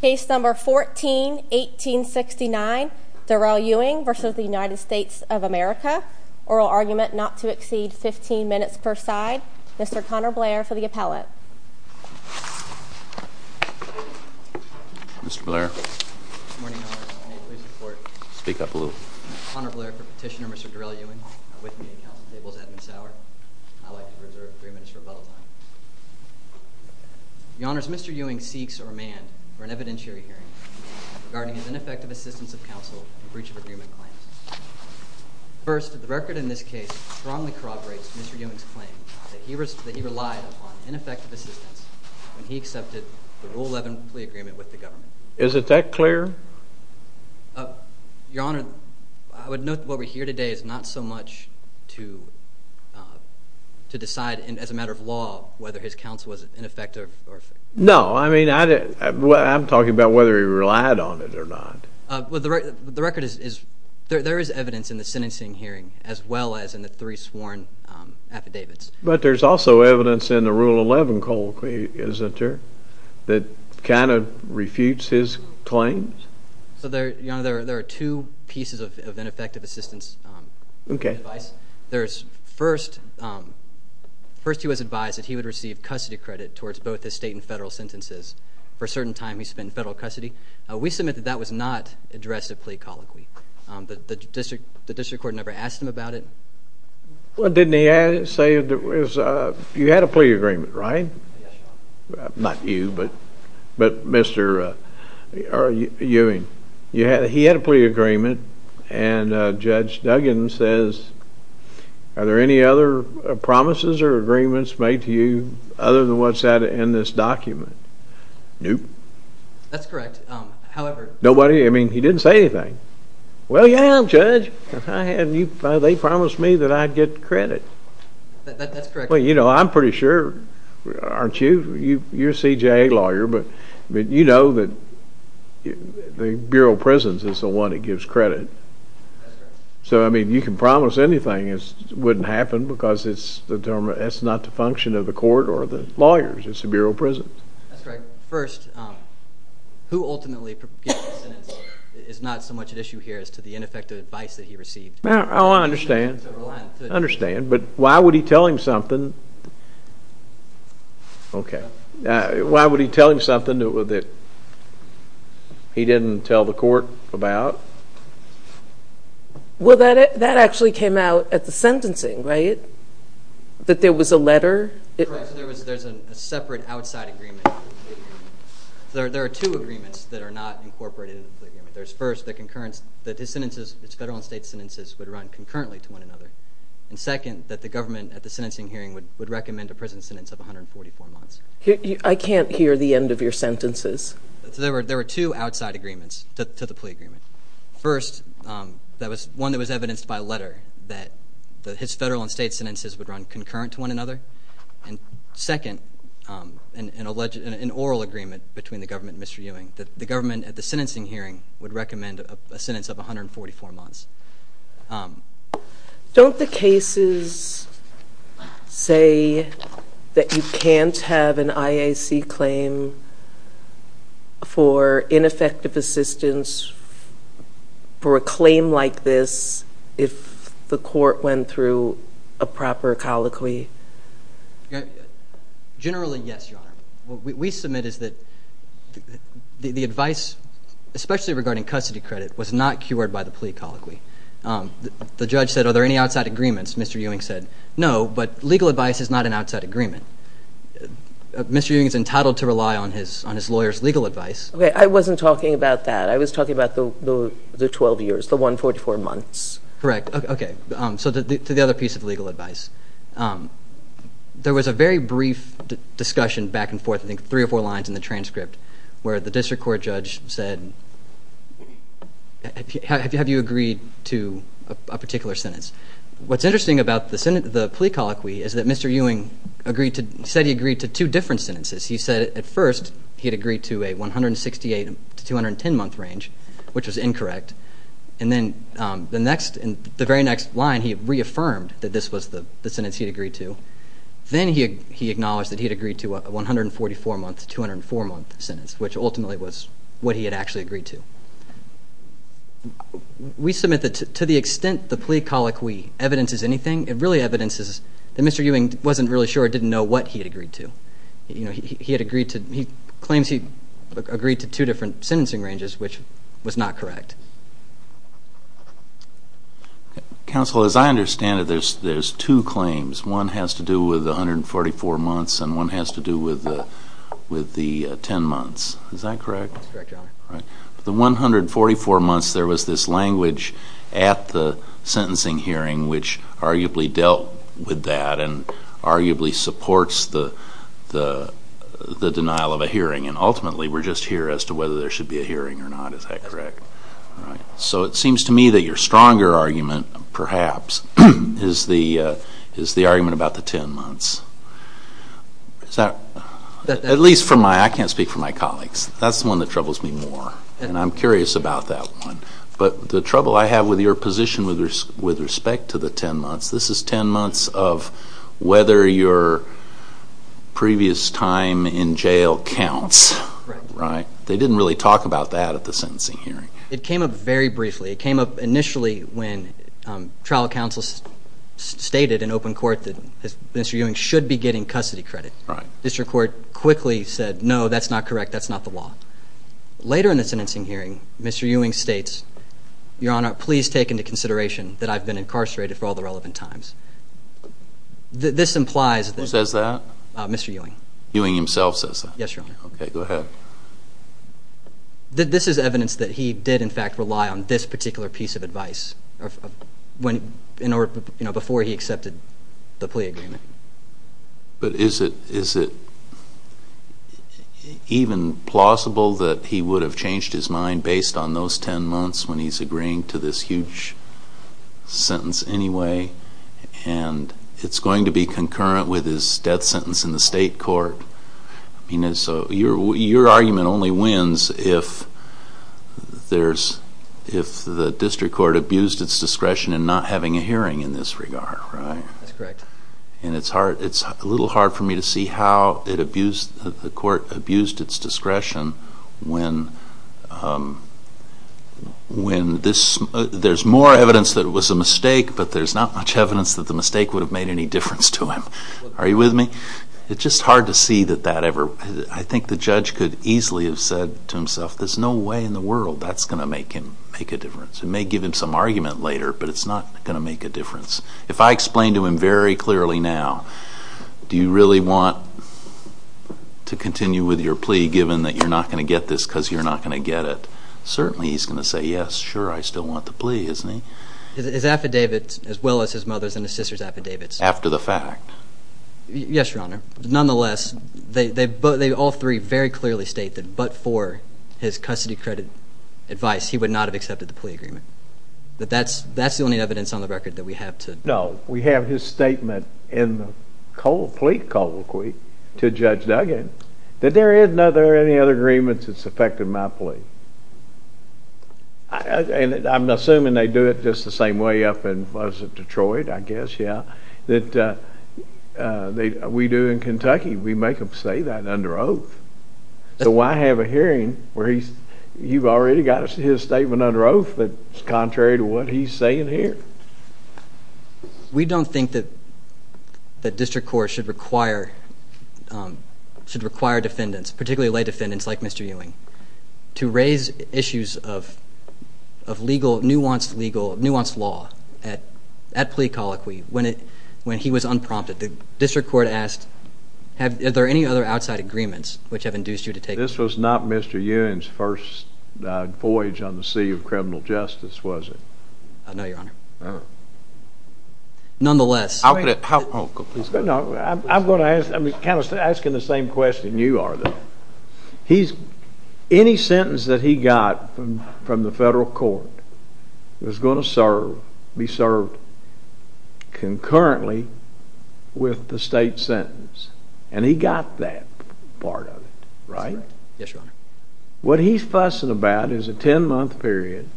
Case No. 14-1869, Darrell Ewing v. United States of America, oral argument not to exceed 15 minutes per side. Mr. Connor Blair for the appellate. Mr. Blair. Good morning, Your Honor. May I please report? Speak up a little. Connor Blair for Petitioner, Mr. Darrell Ewing. With me at Council Tables at this hour. I would like to reserve three minutes for rebuttal time. Your Honors, Mr. Ewing seeks or amends for an evidentiary hearing regarding his ineffective assistance of counsel in breach of agreement claims. First, the record in this case strongly corroborates Mr. Ewing's claim that he relied upon ineffective assistance when he accepted the Rule 11 plea agreement with the government. Is it that clear? Your Honor, I would note that what we hear today is not so much to decide as a matter of law whether his counsel was ineffective. No, I mean, I'm talking about whether he relied on it or not. The record is, there is evidence in the sentencing hearing as well as in the three sworn affidavits. But there's also evidence in the Rule 11 colloquy, isn't there, that kind of refutes his claims? Your Honor, there are two pieces of ineffective assistance advice. First, he was advised that he would receive custody credit towards both his state and federal sentences for a certain time he spent in federal custody. We submit that that was not addressed at plea colloquy. The district court never asked him about it. What didn't he say? You had a plea agreement, right? Not you, but Mr. Ewing. He had a plea agreement, and Judge Duggan says, Are there any other promises or agreements made to you other than what's in this document? Nope. That's correct. However... Nobody? I mean, he didn't say anything. Well, yeah, Judge. They promised me that I'd get credit. That's correct. Well, you know, I'm pretty sure, aren't you? You're a CJA lawyer, but you know that the Bureau of Prisons is the one that gives credit. That's correct. So, I mean, you can promise anything. It wouldn't happen because it's not the function of the court or the lawyers. It's the Bureau of Prisons. That's correct. First, who ultimately gets the sentence is not so much an issue here as to the ineffective advice that he received. Oh, I understand. I understand, but why would he tell him something that he didn't tell the court about? Well, that actually came out at the sentencing, right? That there was a letter? Correct. There's a separate outside agreement. There are two agreements that are not incorporated into the plea agreement. There's first the concurrence that his sentences, his federal and state sentences, would run concurrently to one another. And second, that the government at the sentencing hearing would recommend a prison sentence of 144 months. I can't hear the end of your sentences. There were two outside agreements to the plea agreement. First, that was one that was evidenced by a letter that his federal and state sentences would run concurrent to one another. And second, an oral agreement between the government and Mr. Ewing, that the government at the sentencing hearing would recommend a sentence of 144 months. Don't the cases say that you can't have an IAC claim for ineffective assistance for a claim like this if the court went through a proper colloquy? Generally, yes, Your Honor. What we submit is that the advice, especially regarding custody credit, was not cured by the plea colloquy. The judge said, are there any outside agreements? Mr. Ewing said, no, but legal advice is not an outside agreement. Mr. Ewing is entitled to rely on his lawyer's legal advice. Okay, I wasn't talking about that. I was talking about the 12 years, the 144 months. Correct. Okay. So to the other piece of legal advice, there was a very brief discussion back and forth, I think three or four lines in the transcript, where the district court judge said, have you agreed to a particular sentence? What's interesting about the plea colloquy is that Mr. Ewing said he agreed to two different sentences. He said at first he had agreed to a 168 to 210 month range, which was incorrect. And then the very next line, he reaffirmed that this was the sentence he had agreed to. Then he acknowledged that he had agreed to a 144 month to 204 month sentence, which ultimately was what he had actually agreed to. We submit that to the extent the plea colloquy evidences anything, it really evidences that Mr. Ewing wasn't really sure or didn't know what he had agreed to. He claims he agreed to two different sentencing ranges, which was not correct. Counsel, as I understand it, there's two claims. One has to do with the 144 months and one has to do with the 10 months. Is that correct? The 144 months, there was this language at the sentencing hearing which arguably dealt with that and arguably supports the denial of a hearing. And ultimately, we're just here as to whether there should be a hearing or not. Is that correct? So it seems to me that your stronger argument, perhaps, is the argument about the 10 months. At least from my, I can't speak for my colleagues, that's the one that troubles me more. And I'm curious about that one. But the trouble I have with your position with respect to the 10 months, this is 10 months of whether your previous time in jail counts. Right? They didn't really talk about that at the sentencing hearing. It came up very briefly. It came up initially when trial counsel stated in open court that Mr. Ewing should be getting custody credit. District court quickly said, no, that's not correct. That's not the law. Later in the sentencing hearing, Mr. Ewing states, Your Honor, please take into consideration that I've been incarcerated for all the relevant times. This implies that Who says that? Mr. Ewing. Ewing himself says that? Yes, Your Honor. Okay, go ahead. This is evidence that he did, in fact, rely on this particular piece of advice before he accepted the plea agreement. But is it even plausible that he would have changed his mind based on those 10 months when he's agreeing to this huge sentence anyway? And it's going to be concurrent with his death sentence in the state court. Your argument only wins if the district court abused its discretion in not having a hearing in this regard, right? That's correct. And it's a little hard for me to see how the court abused its discretion when there's more evidence that it was a mistake, but there's not much evidence that the mistake would have made any difference to him. Are you with me? It's just hard to see that that ever – I think the judge could easily have said to himself, there's no way in the world that's going to make him make a difference. It may give him some argument later, but it's not going to make a difference. If I explain to him very clearly now, do you really want to continue with your plea, given that you're not going to get this because you're not going to get it, certainly he's going to say, yes, sure, I still want the plea, isn't he? His affidavits, as well as his mother's and his sister's affidavits. After the fact. Yes, Your Honor. Nonetheless, they all three very clearly state that but for his custody credit advice, he would not have accepted the plea agreement. That's the only evidence on the record that we have to – No, we have his statement in the plea colloquy to Judge Duggan, that there isn't any other agreements that's affected my plea. I'm assuming they do it just the same way up in, what is it, Detroit, I guess, yeah? That we do in Kentucky. We make him say that under oath. So why have a hearing where he's – you've already got his statement under oath, but it's contrary to what he's saying here. We don't think that district courts should require defendants, particularly lay defendants like Mr. Ewing, to raise issues of nuanced law at plea colloquy when he was unprompted. The district court asked, is there any other outside agreements which have induced you to take – This was not Mr. Ewing's first voyage on the sea of criminal justice, was it? No, Your Honor. Oh. Nonetheless – How could it – Oh, go ahead. I'm going to ask – I'm kind of asking the same question you are, though. Any sentence that he got from the federal court was going to be served concurrently with the state sentence, and he got that part of it, right? Yes, Your Honor. What he's fussing about is a 10-month period,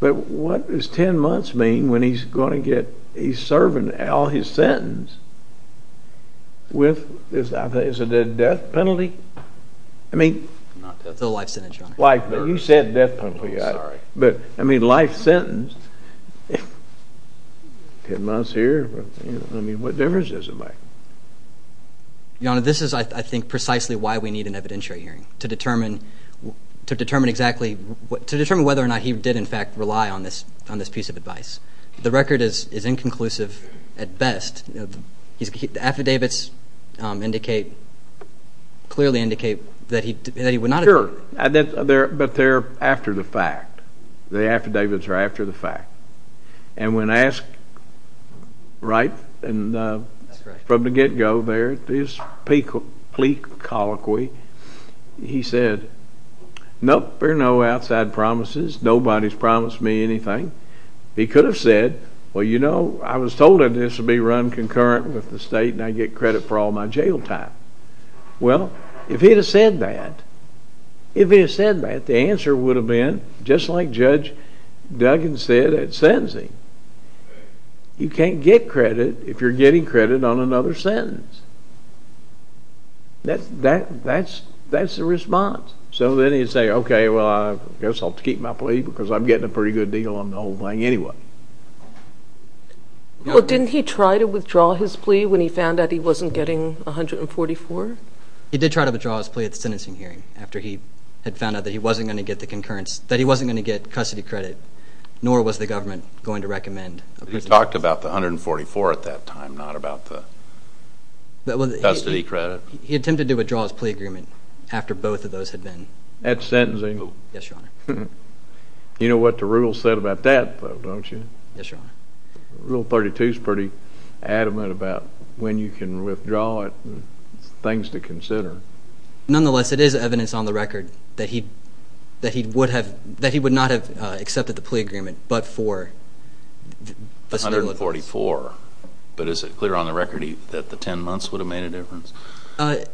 but what does 10 months mean when he's going to get – he's serving all his sentence with – is it a death penalty? I mean – It's a life sentence, Your Honor. You said death penalty. Oh, yeah. I'm sorry. But, I mean, life sentence, 10 months here, I mean, what difference does it make? Your Honor, this is, I think, precisely why we need an evidentiary hearing, to determine exactly – to determine whether or not he did, in fact, rely on this piece of advice. The record is inconclusive at best. Sure. But they're after the fact. The affidavits are after the fact. And when asked, right, from the get-go there, this plea colloquy, he said, nope, there are no outside promises. Nobody's promised me anything. He could have said, well, you know, I was told that this would be run concurrent with the state and I'd get credit for all my jail time. Well, if he had said that, if he had said that, the answer would have been, just like Judge Duggan said at sentencing, you can't get credit if you're getting credit on another sentence. That's the response. So then he'd say, okay, well, I guess I'll keep my plea because I'm getting a pretty good deal on the whole thing anyway. Well, didn't he try to withdraw his plea when he found out he wasn't getting 144? He did try to withdraw his plea at the sentencing hearing after he had found out that he wasn't going to get the concurrence, that he wasn't going to get custody credit, nor was the government going to recommend. You talked about the 144 at that time, not about the custody credit. He attempted to withdraw his plea agreement after both of those had been. At sentencing? Yes, Your Honor. You know what the rules said about that, though, don't you? Yes, Your Honor. Rule 32 is pretty adamant about when you can withdraw it. It's things to consider. Nonetheless, it is evidence on the record that he would not have accepted the plea agreement, but for facilities. 144. But is it clear on the record that the 10 months would have made a difference?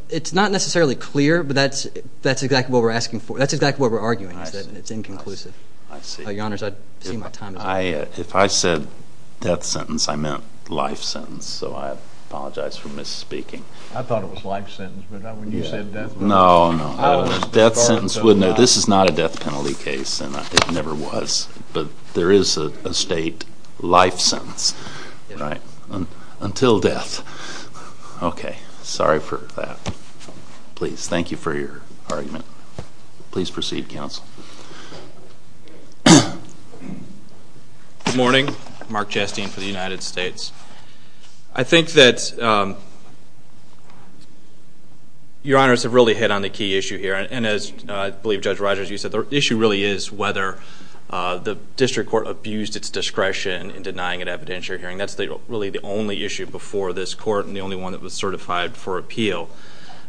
It's not necessarily clear, but that's exactly what we're arguing. It's inconclusive. I see. Your Honor, I see my time is up. If I said death sentence, I meant life sentence, so I apologize for misspeaking. I thought it was life sentence, but not when you said death sentence. No, no. Death sentence, this is not a death penalty case, and it never was, but there is a state life sentence, right, until death. Okay. Sorry for that. Please. Thank you for your argument. Please proceed, counsel. Good morning. Mark Jastine for the United States. I think that Your Honors have really hit on the key issue here, and as I believe Judge Rogers, you said, the issue really is whether the district court abused its discretion in denying an evidentiary hearing. That's really the only issue before this court and the only one that was certified for appeal.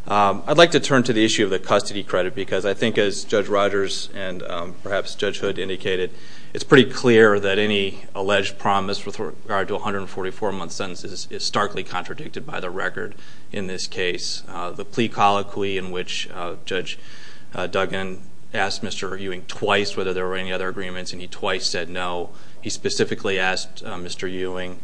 I'd like to turn to the issue of the custody credit, because I think as Judge Rogers and perhaps Judge Hood indicated, it's pretty clear that any alleged promise with regard to 144-month sentences is starkly contradicted by the record in this case. The plea colloquy in which Judge Duggan asked Mr. Ewing twice whether there were any other agreements, and he twice said no. He specifically asked Mr. Ewing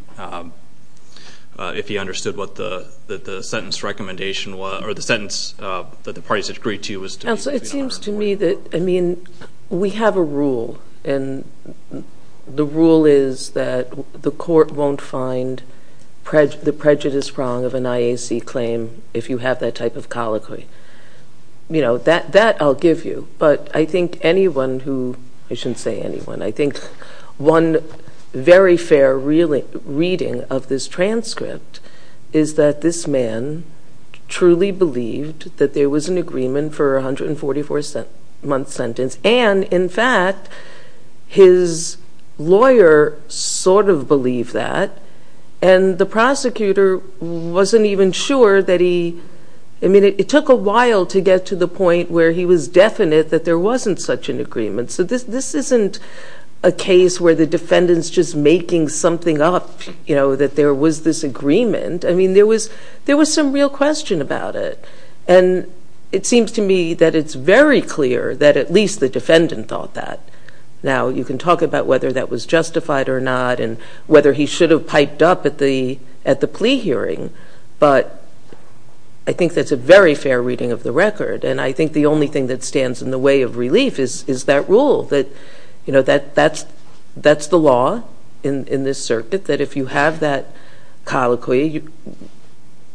if he understood what the sentence recommendation was or the sentence that the parties had agreed to. Counsel, it seems to me that, I mean, we have a rule, and the rule is that the court won't find the prejudice prong of an IAC claim if you have that type of colloquy. That I'll give you, but I think anyone who, I shouldn't say anyone, I think one very fair reading of this transcript is that this man truly believed that there was an agreement for a 144-month sentence, and, in fact, his lawyer sort of believed that, and the prosecutor wasn't even sure that he, I mean, it took a while to get to the point where he was definite that there wasn't such an agreement. So this isn't a case where the defendant's just making something up, you know, that there was this agreement. I mean, there was some real question about it, and it seems to me that it's very clear that at least the defendant thought that. Now, you can talk about whether that was justified or not and whether he should have piped up at the plea hearing, but I think that's a very fair reading of the record, and I think the only thing that stands in the way of relief is that rule, that, you know, that's the law in this circuit, that if you have that colloquy,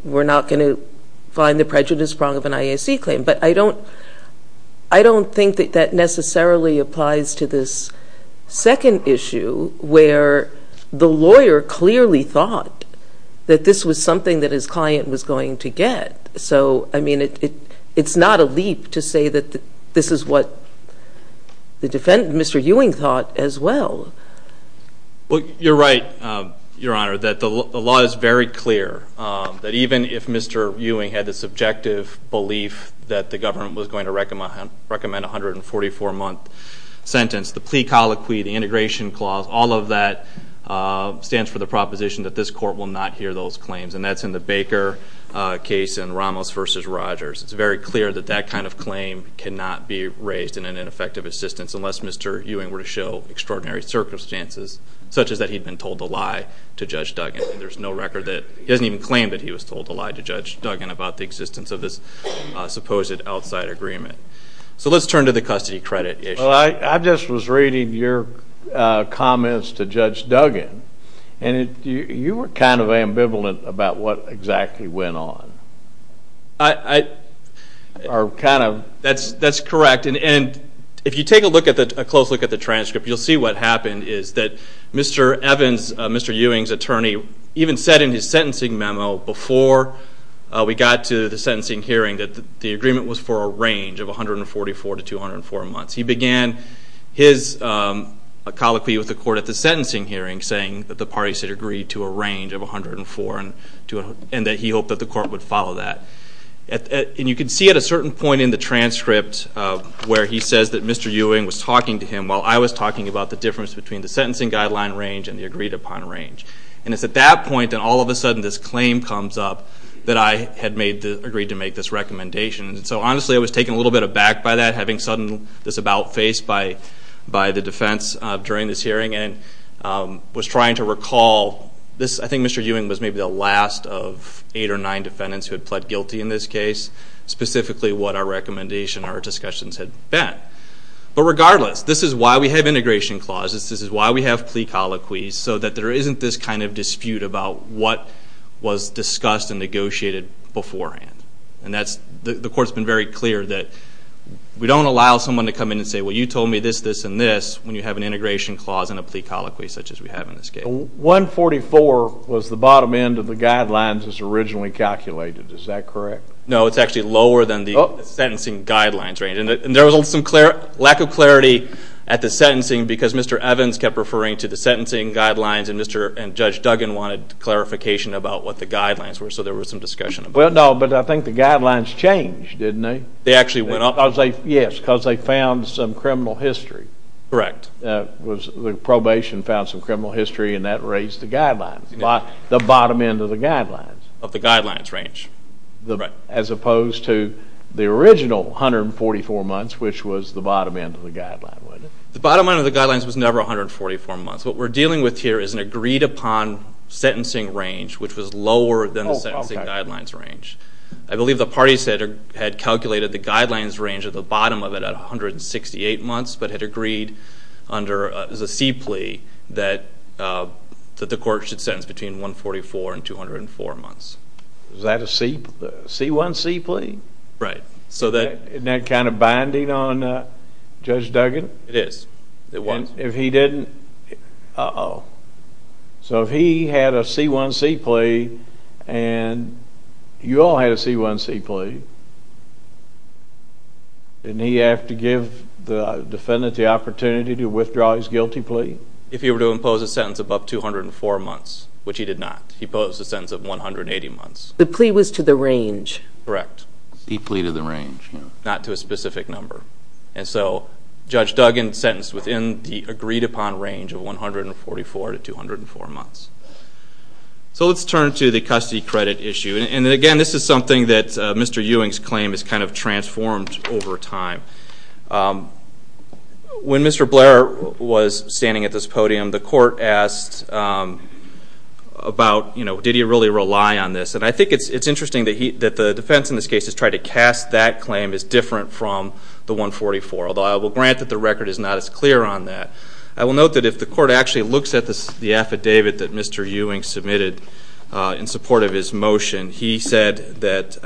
we're not going to find the prejudice prong of an IAC claim. But I don't think that that necessarily applies to this second issue where the lawyer clearly thought that this was something that his client was going to get. So, I mean, it's not a leap to say that this is what the defendant, Mr. Ewing, thought as well. Well, you're right, Your Honor, that the law is very clear, that even if Mr. Ewing had the subjective belief that the government was going to recommend a 144-month sentence, the plea colloquy, the integration clause, all of that stands for the proposition that this court will not hear those claims, and that's in the Baker case in Ramos v. Rogers. It's very clear that that kind of claim cannot be raised in an ineffective assistance unless Mr. Ewing were to show extraordinary circumstances, such as that he'd been told a lie to Judge Duggan. There's no record that he hasn't even claimed that he was told a lie to Judge Duggan about the existence of this supposed outside agreement. So let's turn to the custody credit issue. Well, I just was reading your comments to Judge Duggan, and you were kind of ambivalent about what exactly went on. That's correct, and if you take a close look at the transcript, you'll see what happened is that Mr. Ewing's attorney even said in his sentencing memo before we got to the sentencing hearing that the agreement was for a range of 144 to 204 months. He began his colloquy with the court at the sentencing hearing, saying that the parties had agreed to a range of 104 and that he hoped that the court would follow that. And you can see at a certain point in the transcript where he says that Mr. Ewing was talking to him while I was talking about the difference between the sentencing guideline range and the agreed-upon range. And it's at that point that all of a sudden this claim comes up that I had agreed to make this recommendation. And so, honestly, I was taken a little bit aback by that, having this about-face by the defense during this hearing, and was trying to recall this. I think Mr. Ewing was maybe the last of eight or nine defendants who had pled guilty in this case, specifically what our recommendation, our discussions had been. But regardless, this is why we have integration clauses. This is why we have plea colloquies, so that there isn't this kind of dispute about what was discussed and negotiated beforehand. And the court's been very clear that we don't allow someone to come in and say, well, you told me this, this, and this, when you have an integration clause and a plea colloquy such as we have in this case. 144 was the bottom end of the guidelines as originally calculated. Is that correct? No, it's actually lower than the sentencing guidelines range. And there was some lack of clarity at the sentencing because Mr. Evans kept referring to the sentencing guidelines and Judge Duggan wanted clarification about what the guidelines were, so there was some discussion about it. Well, no, but I think the guidelines changed, didn't they? They actually went up. Yes, because they found some criminal history. Correct. The probation found some criminal history and that raised the guidelines, the bottom end of the guidelines. Of the guidelines range. As opposed to the original 144 months, which was the bottom end of the guideline, wasn't it? The bottom end of the guidelines was never 144 months. What we're dealing with here is an agreed-upon sentencing range, which was lower than the sentencing guidelines range. I believe the parties had calculated the guidelines range at the bottom of it at 168 months but had agreed under the C plea that the court should sentence between 144 and 204 months. Is that a C-1C plea? Right. Isn't that kind of binding on Judge Duggan? It is. If he didn't, uh-oh. So if he had a C-1C plea and you all had a C-1C plea, didn't he have to give the defendant the opportunity to withdraw his guilty plea? If he were to impose a sentence above 204 months, which he did not. He imposed a sentence of 180 months. The plea was to the range. Correct. He pleaded the range. Not to a specific number. And so Judge Duggan sentenced within the agreed-upon range of 144 to 204 months. So let's turn to the custody credit issue. And, again, this is something that Mr. Ewing's claim has kind of transformed over time. When Mr. Blair was standing at this podium, the court asked about, you know, did he really rely on this? And I think it's interesting that the defense in this case has tried to cast that claim as different from the 144, although I will grant that the record is not as clear on that. I will note that if the court actually looks at the affidavit that Mr. Ewing submitted in support of his motion, he said that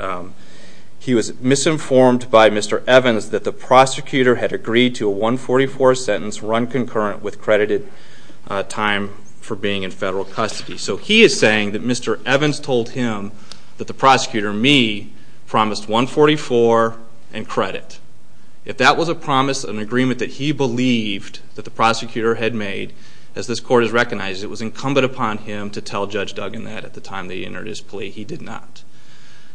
he was misinformed by Mr. Evans that the prosecutor had agreed to a 144 sentence run concurrent with credited time for being in federal custody. So he is saying that Mr. Evans told him that the prosecutor, me, promised 144 and credit. If that was a promise, an agreement that he believed that the prosecutor had made, as this court has recognized, it was incumbent upon him to tell Judge Duggan that at the time that he entered his plea. He did not.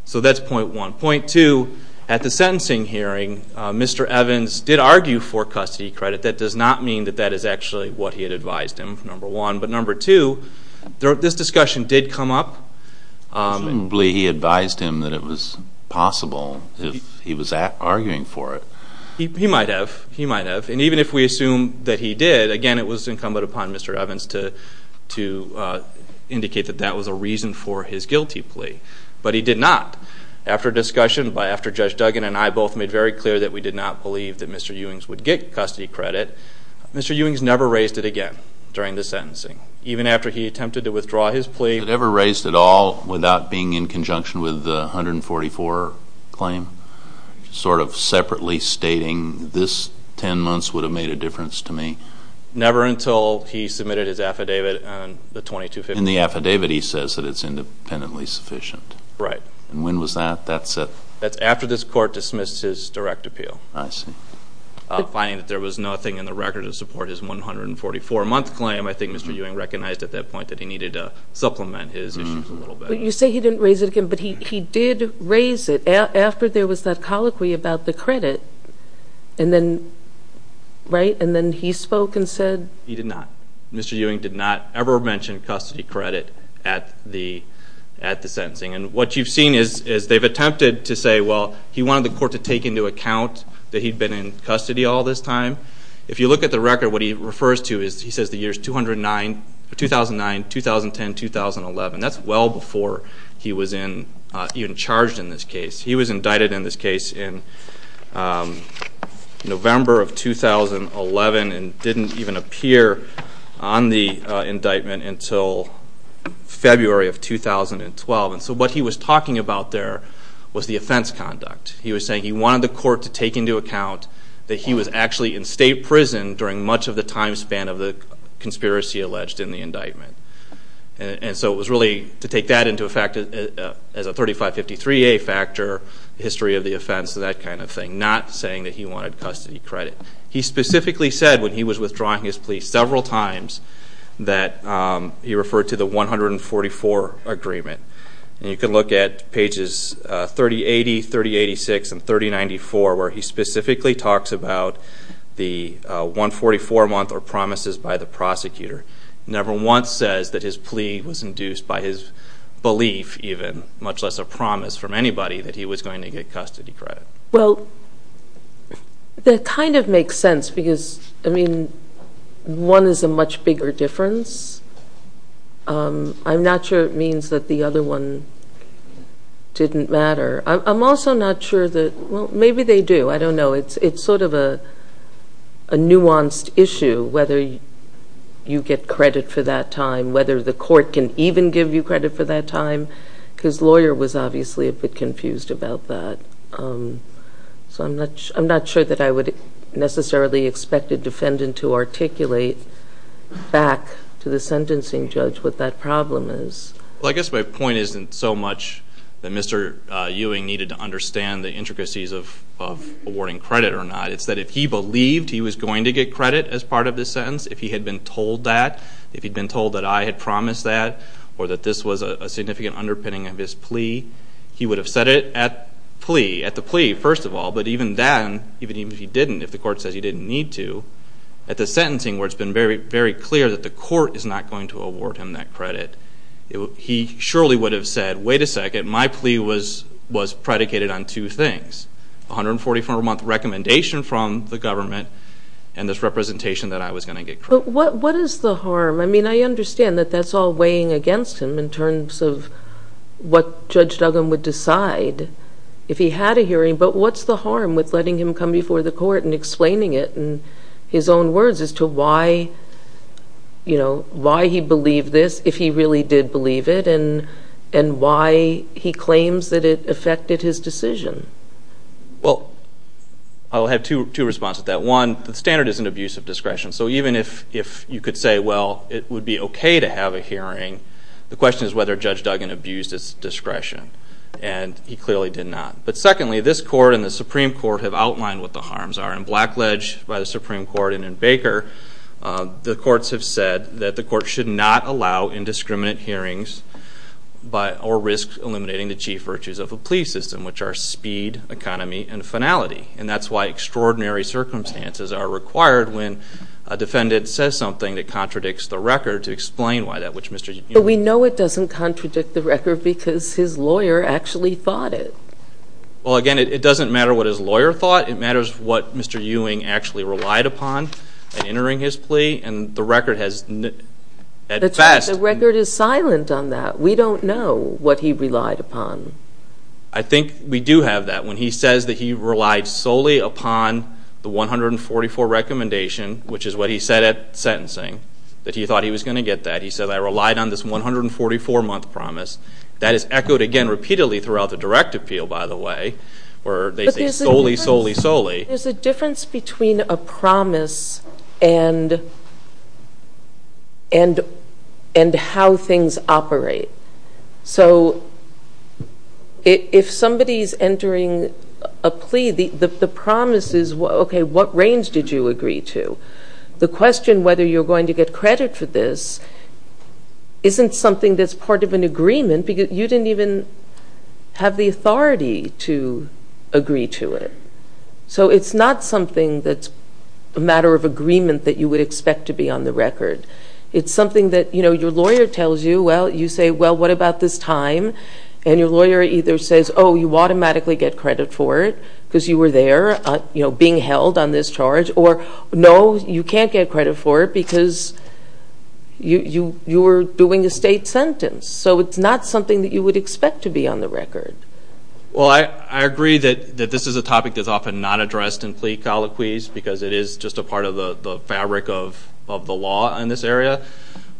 So that's point one. Point two, at the sentencing hearing, Mr. Evans did argue for custody credit. That does not mean that that is actually what he had advised him, number one. But number two, this discussion did come up. Assumably he advised him that it was possible if he was arguing for it. He might have. He might have. And even if we assume that he did, again, it was incumbent upon Mr. Evans to indicate that that was a reason for his guilty plea. But he did not. After discussion, after Judge Duggan and I both made very clear that we did not believe that Mr. Ewing would get custody credit, Mr. Ewing never raised it again during the sentencing, even after he attempted to withdraw his plea. He never raised it at all without being in conjunction with the 144 claim, sort of separately stating this 10 months would have made a difference to me? Never until he submitted his affidavit on the 2250. In the affidavit he says that it's independently sufficient. Right. And when was that? That's after this court dismissed his direct appeal. I see. Finding that there was nothing in the record to support his 144-month claim, I think Mr. Ewing recognized at that point that he needed to supplement his issues a little bit. But you say he didn't raise it again, but he did raise it after there was that colloquy about the credit, and then he spoke and said? He did not. Mr. Ewing did not ever mention custody credit at the sentencing. And what you've seen is they've attempted to say, well, he wanted the court to take into account that he'd been in custody all this time. If you look at the record, what he refers to is he says the years 2009, 2010, 2011. That's well before he was even charged in this case. He was indicted in this case in November of 2011 and didn't even appear on the indictment until February of 2012. And so what he was talking about there was the offense conduct. He was saying he wanted the court to take into account that he was actually in state prison during much of the time span of the conspiracy alleged in the indictment. And so it was really to take that into effect as a 3553A factor, history of the offense, that kind of thing, not saying that he wanted custody credit. He specifically said when he was withdrawing his plea several times that he referred to the 144 agreement. And you can look at pages 3080, 3086, and 3094, where he specifically talks about the 144 month or promises by the prosecutor. He never once says that his plea was induced by his belief even, much less a promise from anybody that he was going to get custody credit. Well, that kind of makes sense because, I mean, one is a much bigger difference. I'm not sure it means that the other one didn't matter. I'm also not sure that, well, maybe they do. I don't know. It's sort of a nuanced issue, whether you get credit for that time, whether the court can even give you credit for that time because the lawyer was obviously a bit confused about that. So I'm not sure that I would necessarily expect a defendant to articulate back to the sentencing judge what that problem is. Well, I guess my point isn't so much that Mr. Ewing needed to understand the intricacies of awarding credit or not. It's that if he believed he was going to get credit as part of the sentence, if he had been told that, if he'd been told that I had promised that or that this was a significant underpinning of his plea, he would have said it at the plea, first of all. But even then, even if he didn't, if the court says he didn't need to, at the sentencing where it's been very clear that the court is not going to award him that credit, he surely would have said, wait a second, my plea was predicated on two things, 144-month recommendation from the government and this representation that I was going to get credit. But what is the harm? I mean, I understand that that's all weighing against him in terms of what Judge Duggan would decide if he had a hearing, but what's the harm with letting him come before the court and explaining it in his own words as to why he believed this if he really did believe it and why he claims that it affected his decision? Well, I'll have two responses to that. One, the standard isn't abuse of discretion. So even if you could say, well, it would be okay to have a hearing, the question is whether Judge Duggan abused his discretion, and he clearly did not. But secondly, this court and the Supreme Court have outlined what the harms are. And blackledged by the Supreme Court and in Baker, the courts have said that the court should not allow indiscriminate hearings or risk eliminating the chief virtues of a plea system, which are speed, economy, and finality. And that's why extraordinary circumstances are required when a defendant says something that contradicts the record to explain why that which Mr. Ewing. But we know it doesn't contradict the record because his lawyer actually thought it. Well, again, it doesn't matter what his lawyer thought. It matters what Mr. Ewing actually relied upon in entering his plea, and the record has at best. The record is silent on that. We don't know what he relied upon. I think we do have that. When he says that he relied solely upon the 144 recommendation, which is what he said at sentencing, that he thought he was going to get that, he said, I relied on this 144-month promise. That is echoed again repeatedly throughout the direct appeal, by the way, where they say solely, solely, solely. There's a difference between a promise and how things operate. So if somebody's entering a plea, the promise is, okay, what range did you agree to? The question whether you're going to get credit for this isn't something that's part of an agreement because you didn't even have the authority to agree to it. So it's not something that's a matter of agreement that you would expect to be on the record. It's something that, you know, your lawyer tells you, you say, well, what about this time? And your lawyer either says, oh, you automatically get credit for it because you were there, you know, being held on this charge, or no, you can't get credit for it because you were doing a state sentence. So it's not something that you would expect to be on the record. Well, I agree that this is a topic that's often not addressed in plea colloquies because it is just a part of the fabric of the law in this area.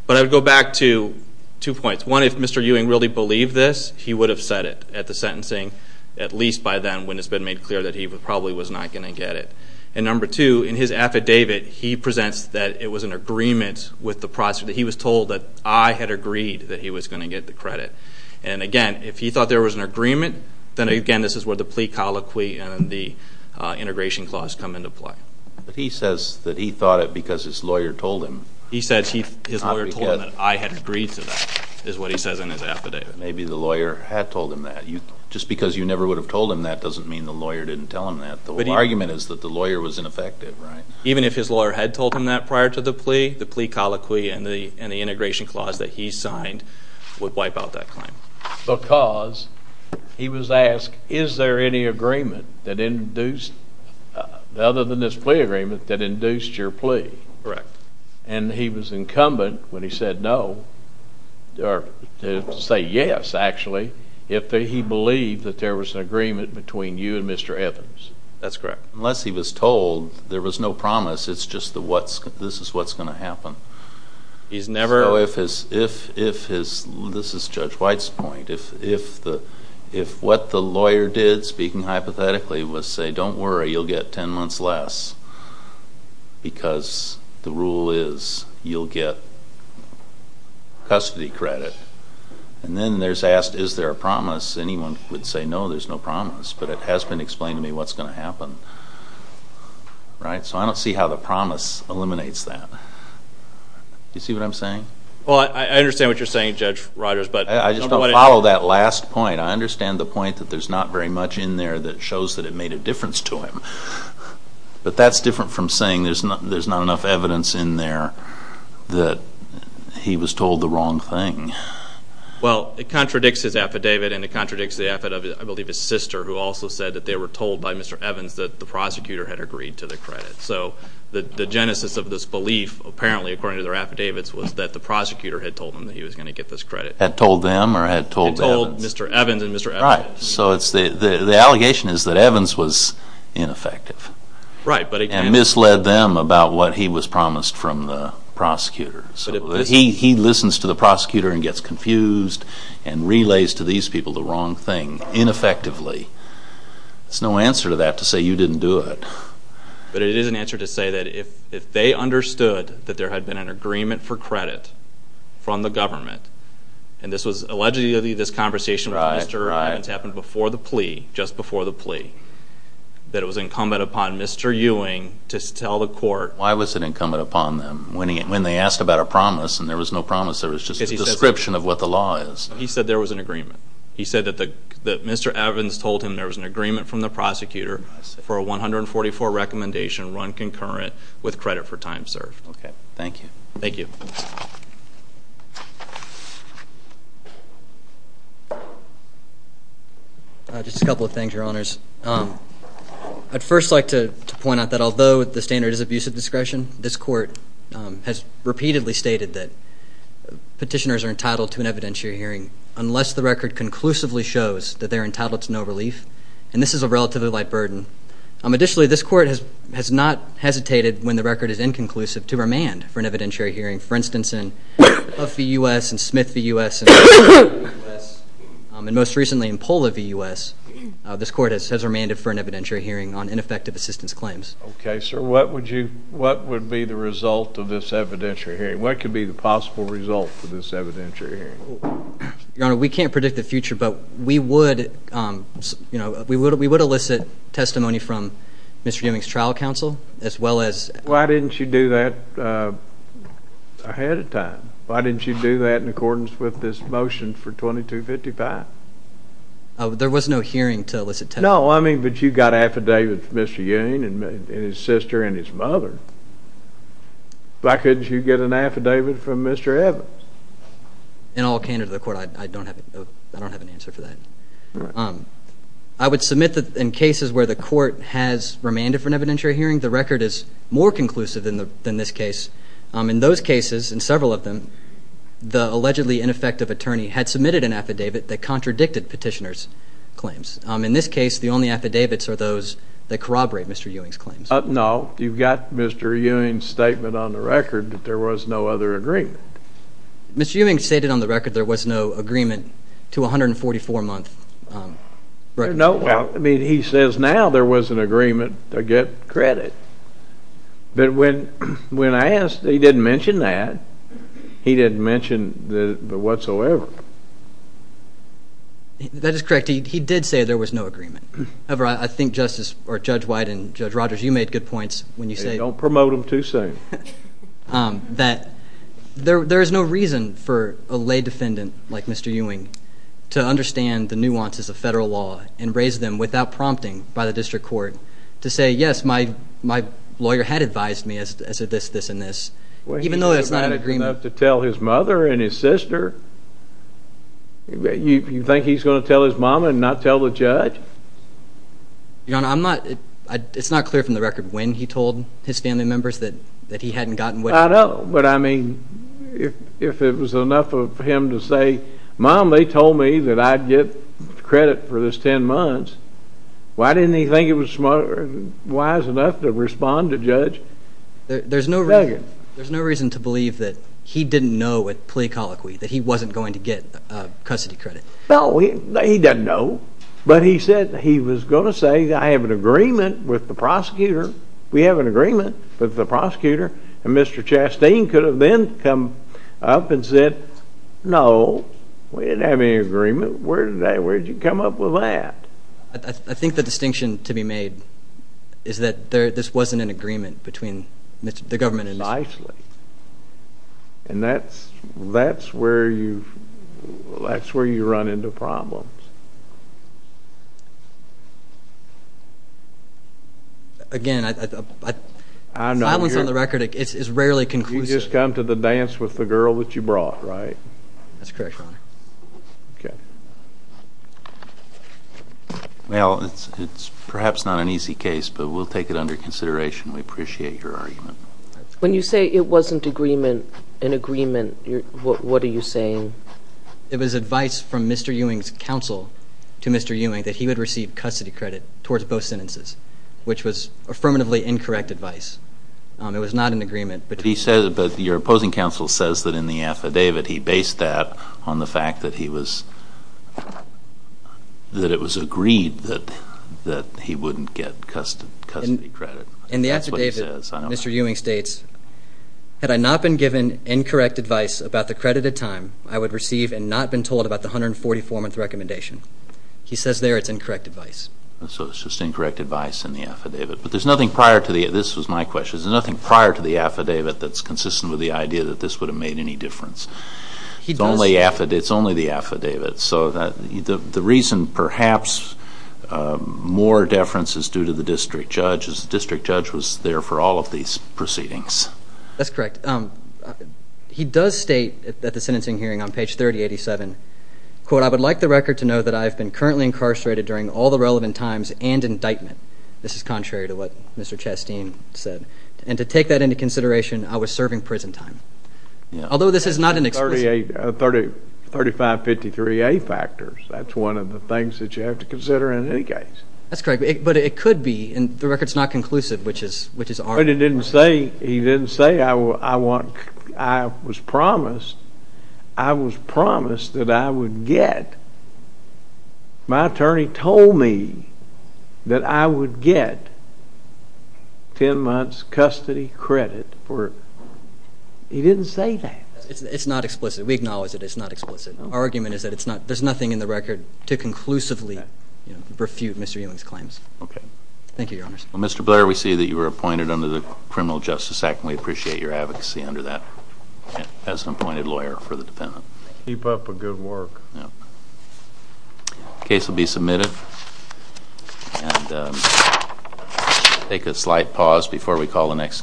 But I would go back to two points. One, if Mr. Ewing really believed this, he would have said it at the sentencing, at least by then when it's been made clear that he probably was not going to get it. And number two, in his affidavit, he presents that it was an agreement with the prosecutor, that he was told that I had agreed that he was going to get the credit. And again, if he thought there was an agreement, then again this is where the plea colloquy and the integration clause come into play. But he says that he thought it because his lawyer told him. He said his lawyer told him that I had agreed to that is what he says in his affidavit. Maybe the lawyer had told him that. Just because you never would have told him that doesn't mean the lawyer didn't tell him that. The whole argument is that the lawyer was ineffective, right? Even if his lawyer had told him that prior to the plea, the plea colloquy and the integration clause that he signed would wipe out that claim. Because he was asked, is there any agreement other than this plea agreement that induced your plea? Correct. And he was incumbent when he said no, or to say yes actually, if he believed that there was an agreement between you and Mr. Evans. That's correct. Unless he was told there was no promise, it's just this is what's going to happen. So if his, this is Judge White's point, if what the lawyer did, speaking hypothetically, was say don't worry, you'll get 10 months less because the rule is you'll get custody credit. And then they're asked, is there a promise? Anyone would say no, there's no promise. But it has been explained to me what's going to happen. So I don't see how the promise eliminates that. Do you see what I'm saying? Well, I understand what you're saying, Judge Rodgers. I just don't follow that last point. I understand the point that there's not very much in there that shows that it made a difference to him. But that's different from saying there's not enough evidence in there that he was told the wrong thing. Well, it contradicts his affidavit, and it contradicts the affidavit of, I believe, his sister, who also said that they were told by Mr. Evans that the prosecutor had agreed to the credit. So the genesis of this belief, apparently, according to their affidavits, was that the prosecutor had told them that he was going to get this credit. Had told them or had told Evans? Had told Mr. Evans and Mr. Evans. Right. So the allegation is that Evans was ineffective. Right. And misled them about what he was promised from the prosecutor. He listens to the prosecutor and gets confused and relays to these people the wrong thing, ineffectively. There's no answer to that to say you didn't do it. But it is an answer to say that if they understood that there had been an agreement for credit from the government, and this was allegedly this conversation with Mr. Evans happened before the plea, just before the plea, that it was incumbent upon Mr. Ewing to tell the court. Why was it incumbent upon them? When they asked about a promise and there was no promise, there was just a description of what the law is. He said there was an agreement. for a 144 recommendation run concurrent with credit for time served. Okay. Thank you. Thank you. Just a couple of things, Your Honors. I'd first like to point out that although the standard is abusive discretion, this court has repeatedly stated that petitioners are entitled to an evidentiary hearing unless the record conclusively shows that they're entitled to no relief. And this is a relatively light burden. Additionally, this court has not hesitated when the record is inconclusive to remand for an evidentiary hearing. For instance, in Huff v. U.S. and Smith v. U.S. and most recently in Pola v. U.S., this court has remanded for an evidentiary hearing on ineffective assistance claims. Okay, sir. What would be the result of this evidentiary hearing? What could be the possible result for this evidentiary hearing? Your Honor, we can't predict the future, but we would elicit testimony from Mr. Ewing's trial counsel as well as Why didn't you do that ahead of time? Why didn't you do that in accordance with this motion for 2255? There was no hearing to elicit testimony. No, I mean, but you got an affidavit from Mr. Ewing and his sister and his mother. Why couldn't you get an affidavit from Mr. Evans? In all candor to the court, I don't have an answer for that. I would submit that in cases where the court has remanded for an evidentiary hearing, the record is more conclusive than this case. In those cases, in several of them, the allegedly ineffective attorney had submitted an affidavit that contradicted petitioner's claims. In this case, the only affidavits are those that corroborate Mr. Ewing's claims. No, you've got Mr. Ewing's statement on the record that there was no other agreement. Mr. Ewing stated on the record there was no agreement to 144-month records. Well, I mean, he says now there was an agreement to get credit. But when I asked, he didn't mention that. He didn't mention that whatsoever. That is correct. He did say there was no agreement. However, I think Judge White and Judge Rogers, you made good points when you say Hey, don't promote them too soon. that there is no reason for a lay defendant like Mr. Ewing to understand the nuances of federal law and raise them without prompting by the district court to say, yes, my lawyer had advised me as to this, this, and this, even though there's not an agreement. Well, he's dramatic enough to tell his mother and his sister. You think he's going to tell his mom and not tell the judge? Your Honor, it's not clear from the record when he told his family members that he hadn't gotten what he wanted. I know, but I mean, if it was enough of him to say, Mom, they told me that I'd get credit for this 10 months, why didn't he think it was wise enough to respond to Judge Nugent? There's no reason to believe that he didn't know at plea colloquy that he wasn't going to get custody credit. No, he didn't know, but he said he was going to say, I have an agreement with the prosecutor. We have an agreement with the prosecutor. And Mr. Chastain could have then come up and said, No, we didn't have any agreement. Where did you come up with that? I think the distinction to be made is that this wasn't an agreement between the government and Mr. Chastain. Precisely, and that's where you run into problems. Again, silence on the record is rarely conclusive. You just come to the dance with the girl that you brought, right? That's correct, Your Honor. Okay. Well, it's perhaps not an easy case, but we'll take it under consideration. We appreciate your argument. When you say it wasn't an agreement, what are you saying? It was advice from Mr. Ewing's counsel to Mr. Ewing that he would receive custody credit towards both sentences, which was affirmatively incorrect advice. It was not an agreement. But your opposing counsel says that in the affidavit he based that on the fact that it was agreed that he wouldn't get custody credit. In the affidavit, Mr. Ewing states, Had I not been given incorrect advice about the credited time, I would receive and not been told about the 144-month recommendation. He says there it's incorrect advice. So it's just incorrect advice in the affidavit. But there's nothing prior to the, this was my question, there's nothing prior to the affidavit that's consistent with the idea that this would have made any difference. It's only the affidavit. So the reason perhaps more deference is due to the district judge, is the district judge was there for all of these proceedings. That's correct. He does state at the sentencing hearing on page 3087, I would like the record to know that I have been currently incarcerated during all the relevant times and indictment. This is contrary to what Mr. Chasteen said. And to take that into consideration, I was serving prison time. Although this is not an explicit— That's 3553A factors. That's one of the things that you have to consider in any case. That's correct. But it could be, and the record's not conclusive, which is our— But he didn't say, he didn't say I was promised. I was promised that I would get. My attorney told me that I would get 10 months' custody credit for—he didn't say that. It's not explicit. We acknowledge that it's not explicit. Our argument is that there's nothing in the record to conclusively refute Mr. Ewing's claims. Okay. Thank you, Your Honors. Well, Mr. Blair, we see that you were appointed under the Criminal Justice Act, and we appreciate your advocacy under that as an appointed lawyer for the defendant. Keep up the good work. The case will be submitted. And we'll take a slight pause before we call the next case.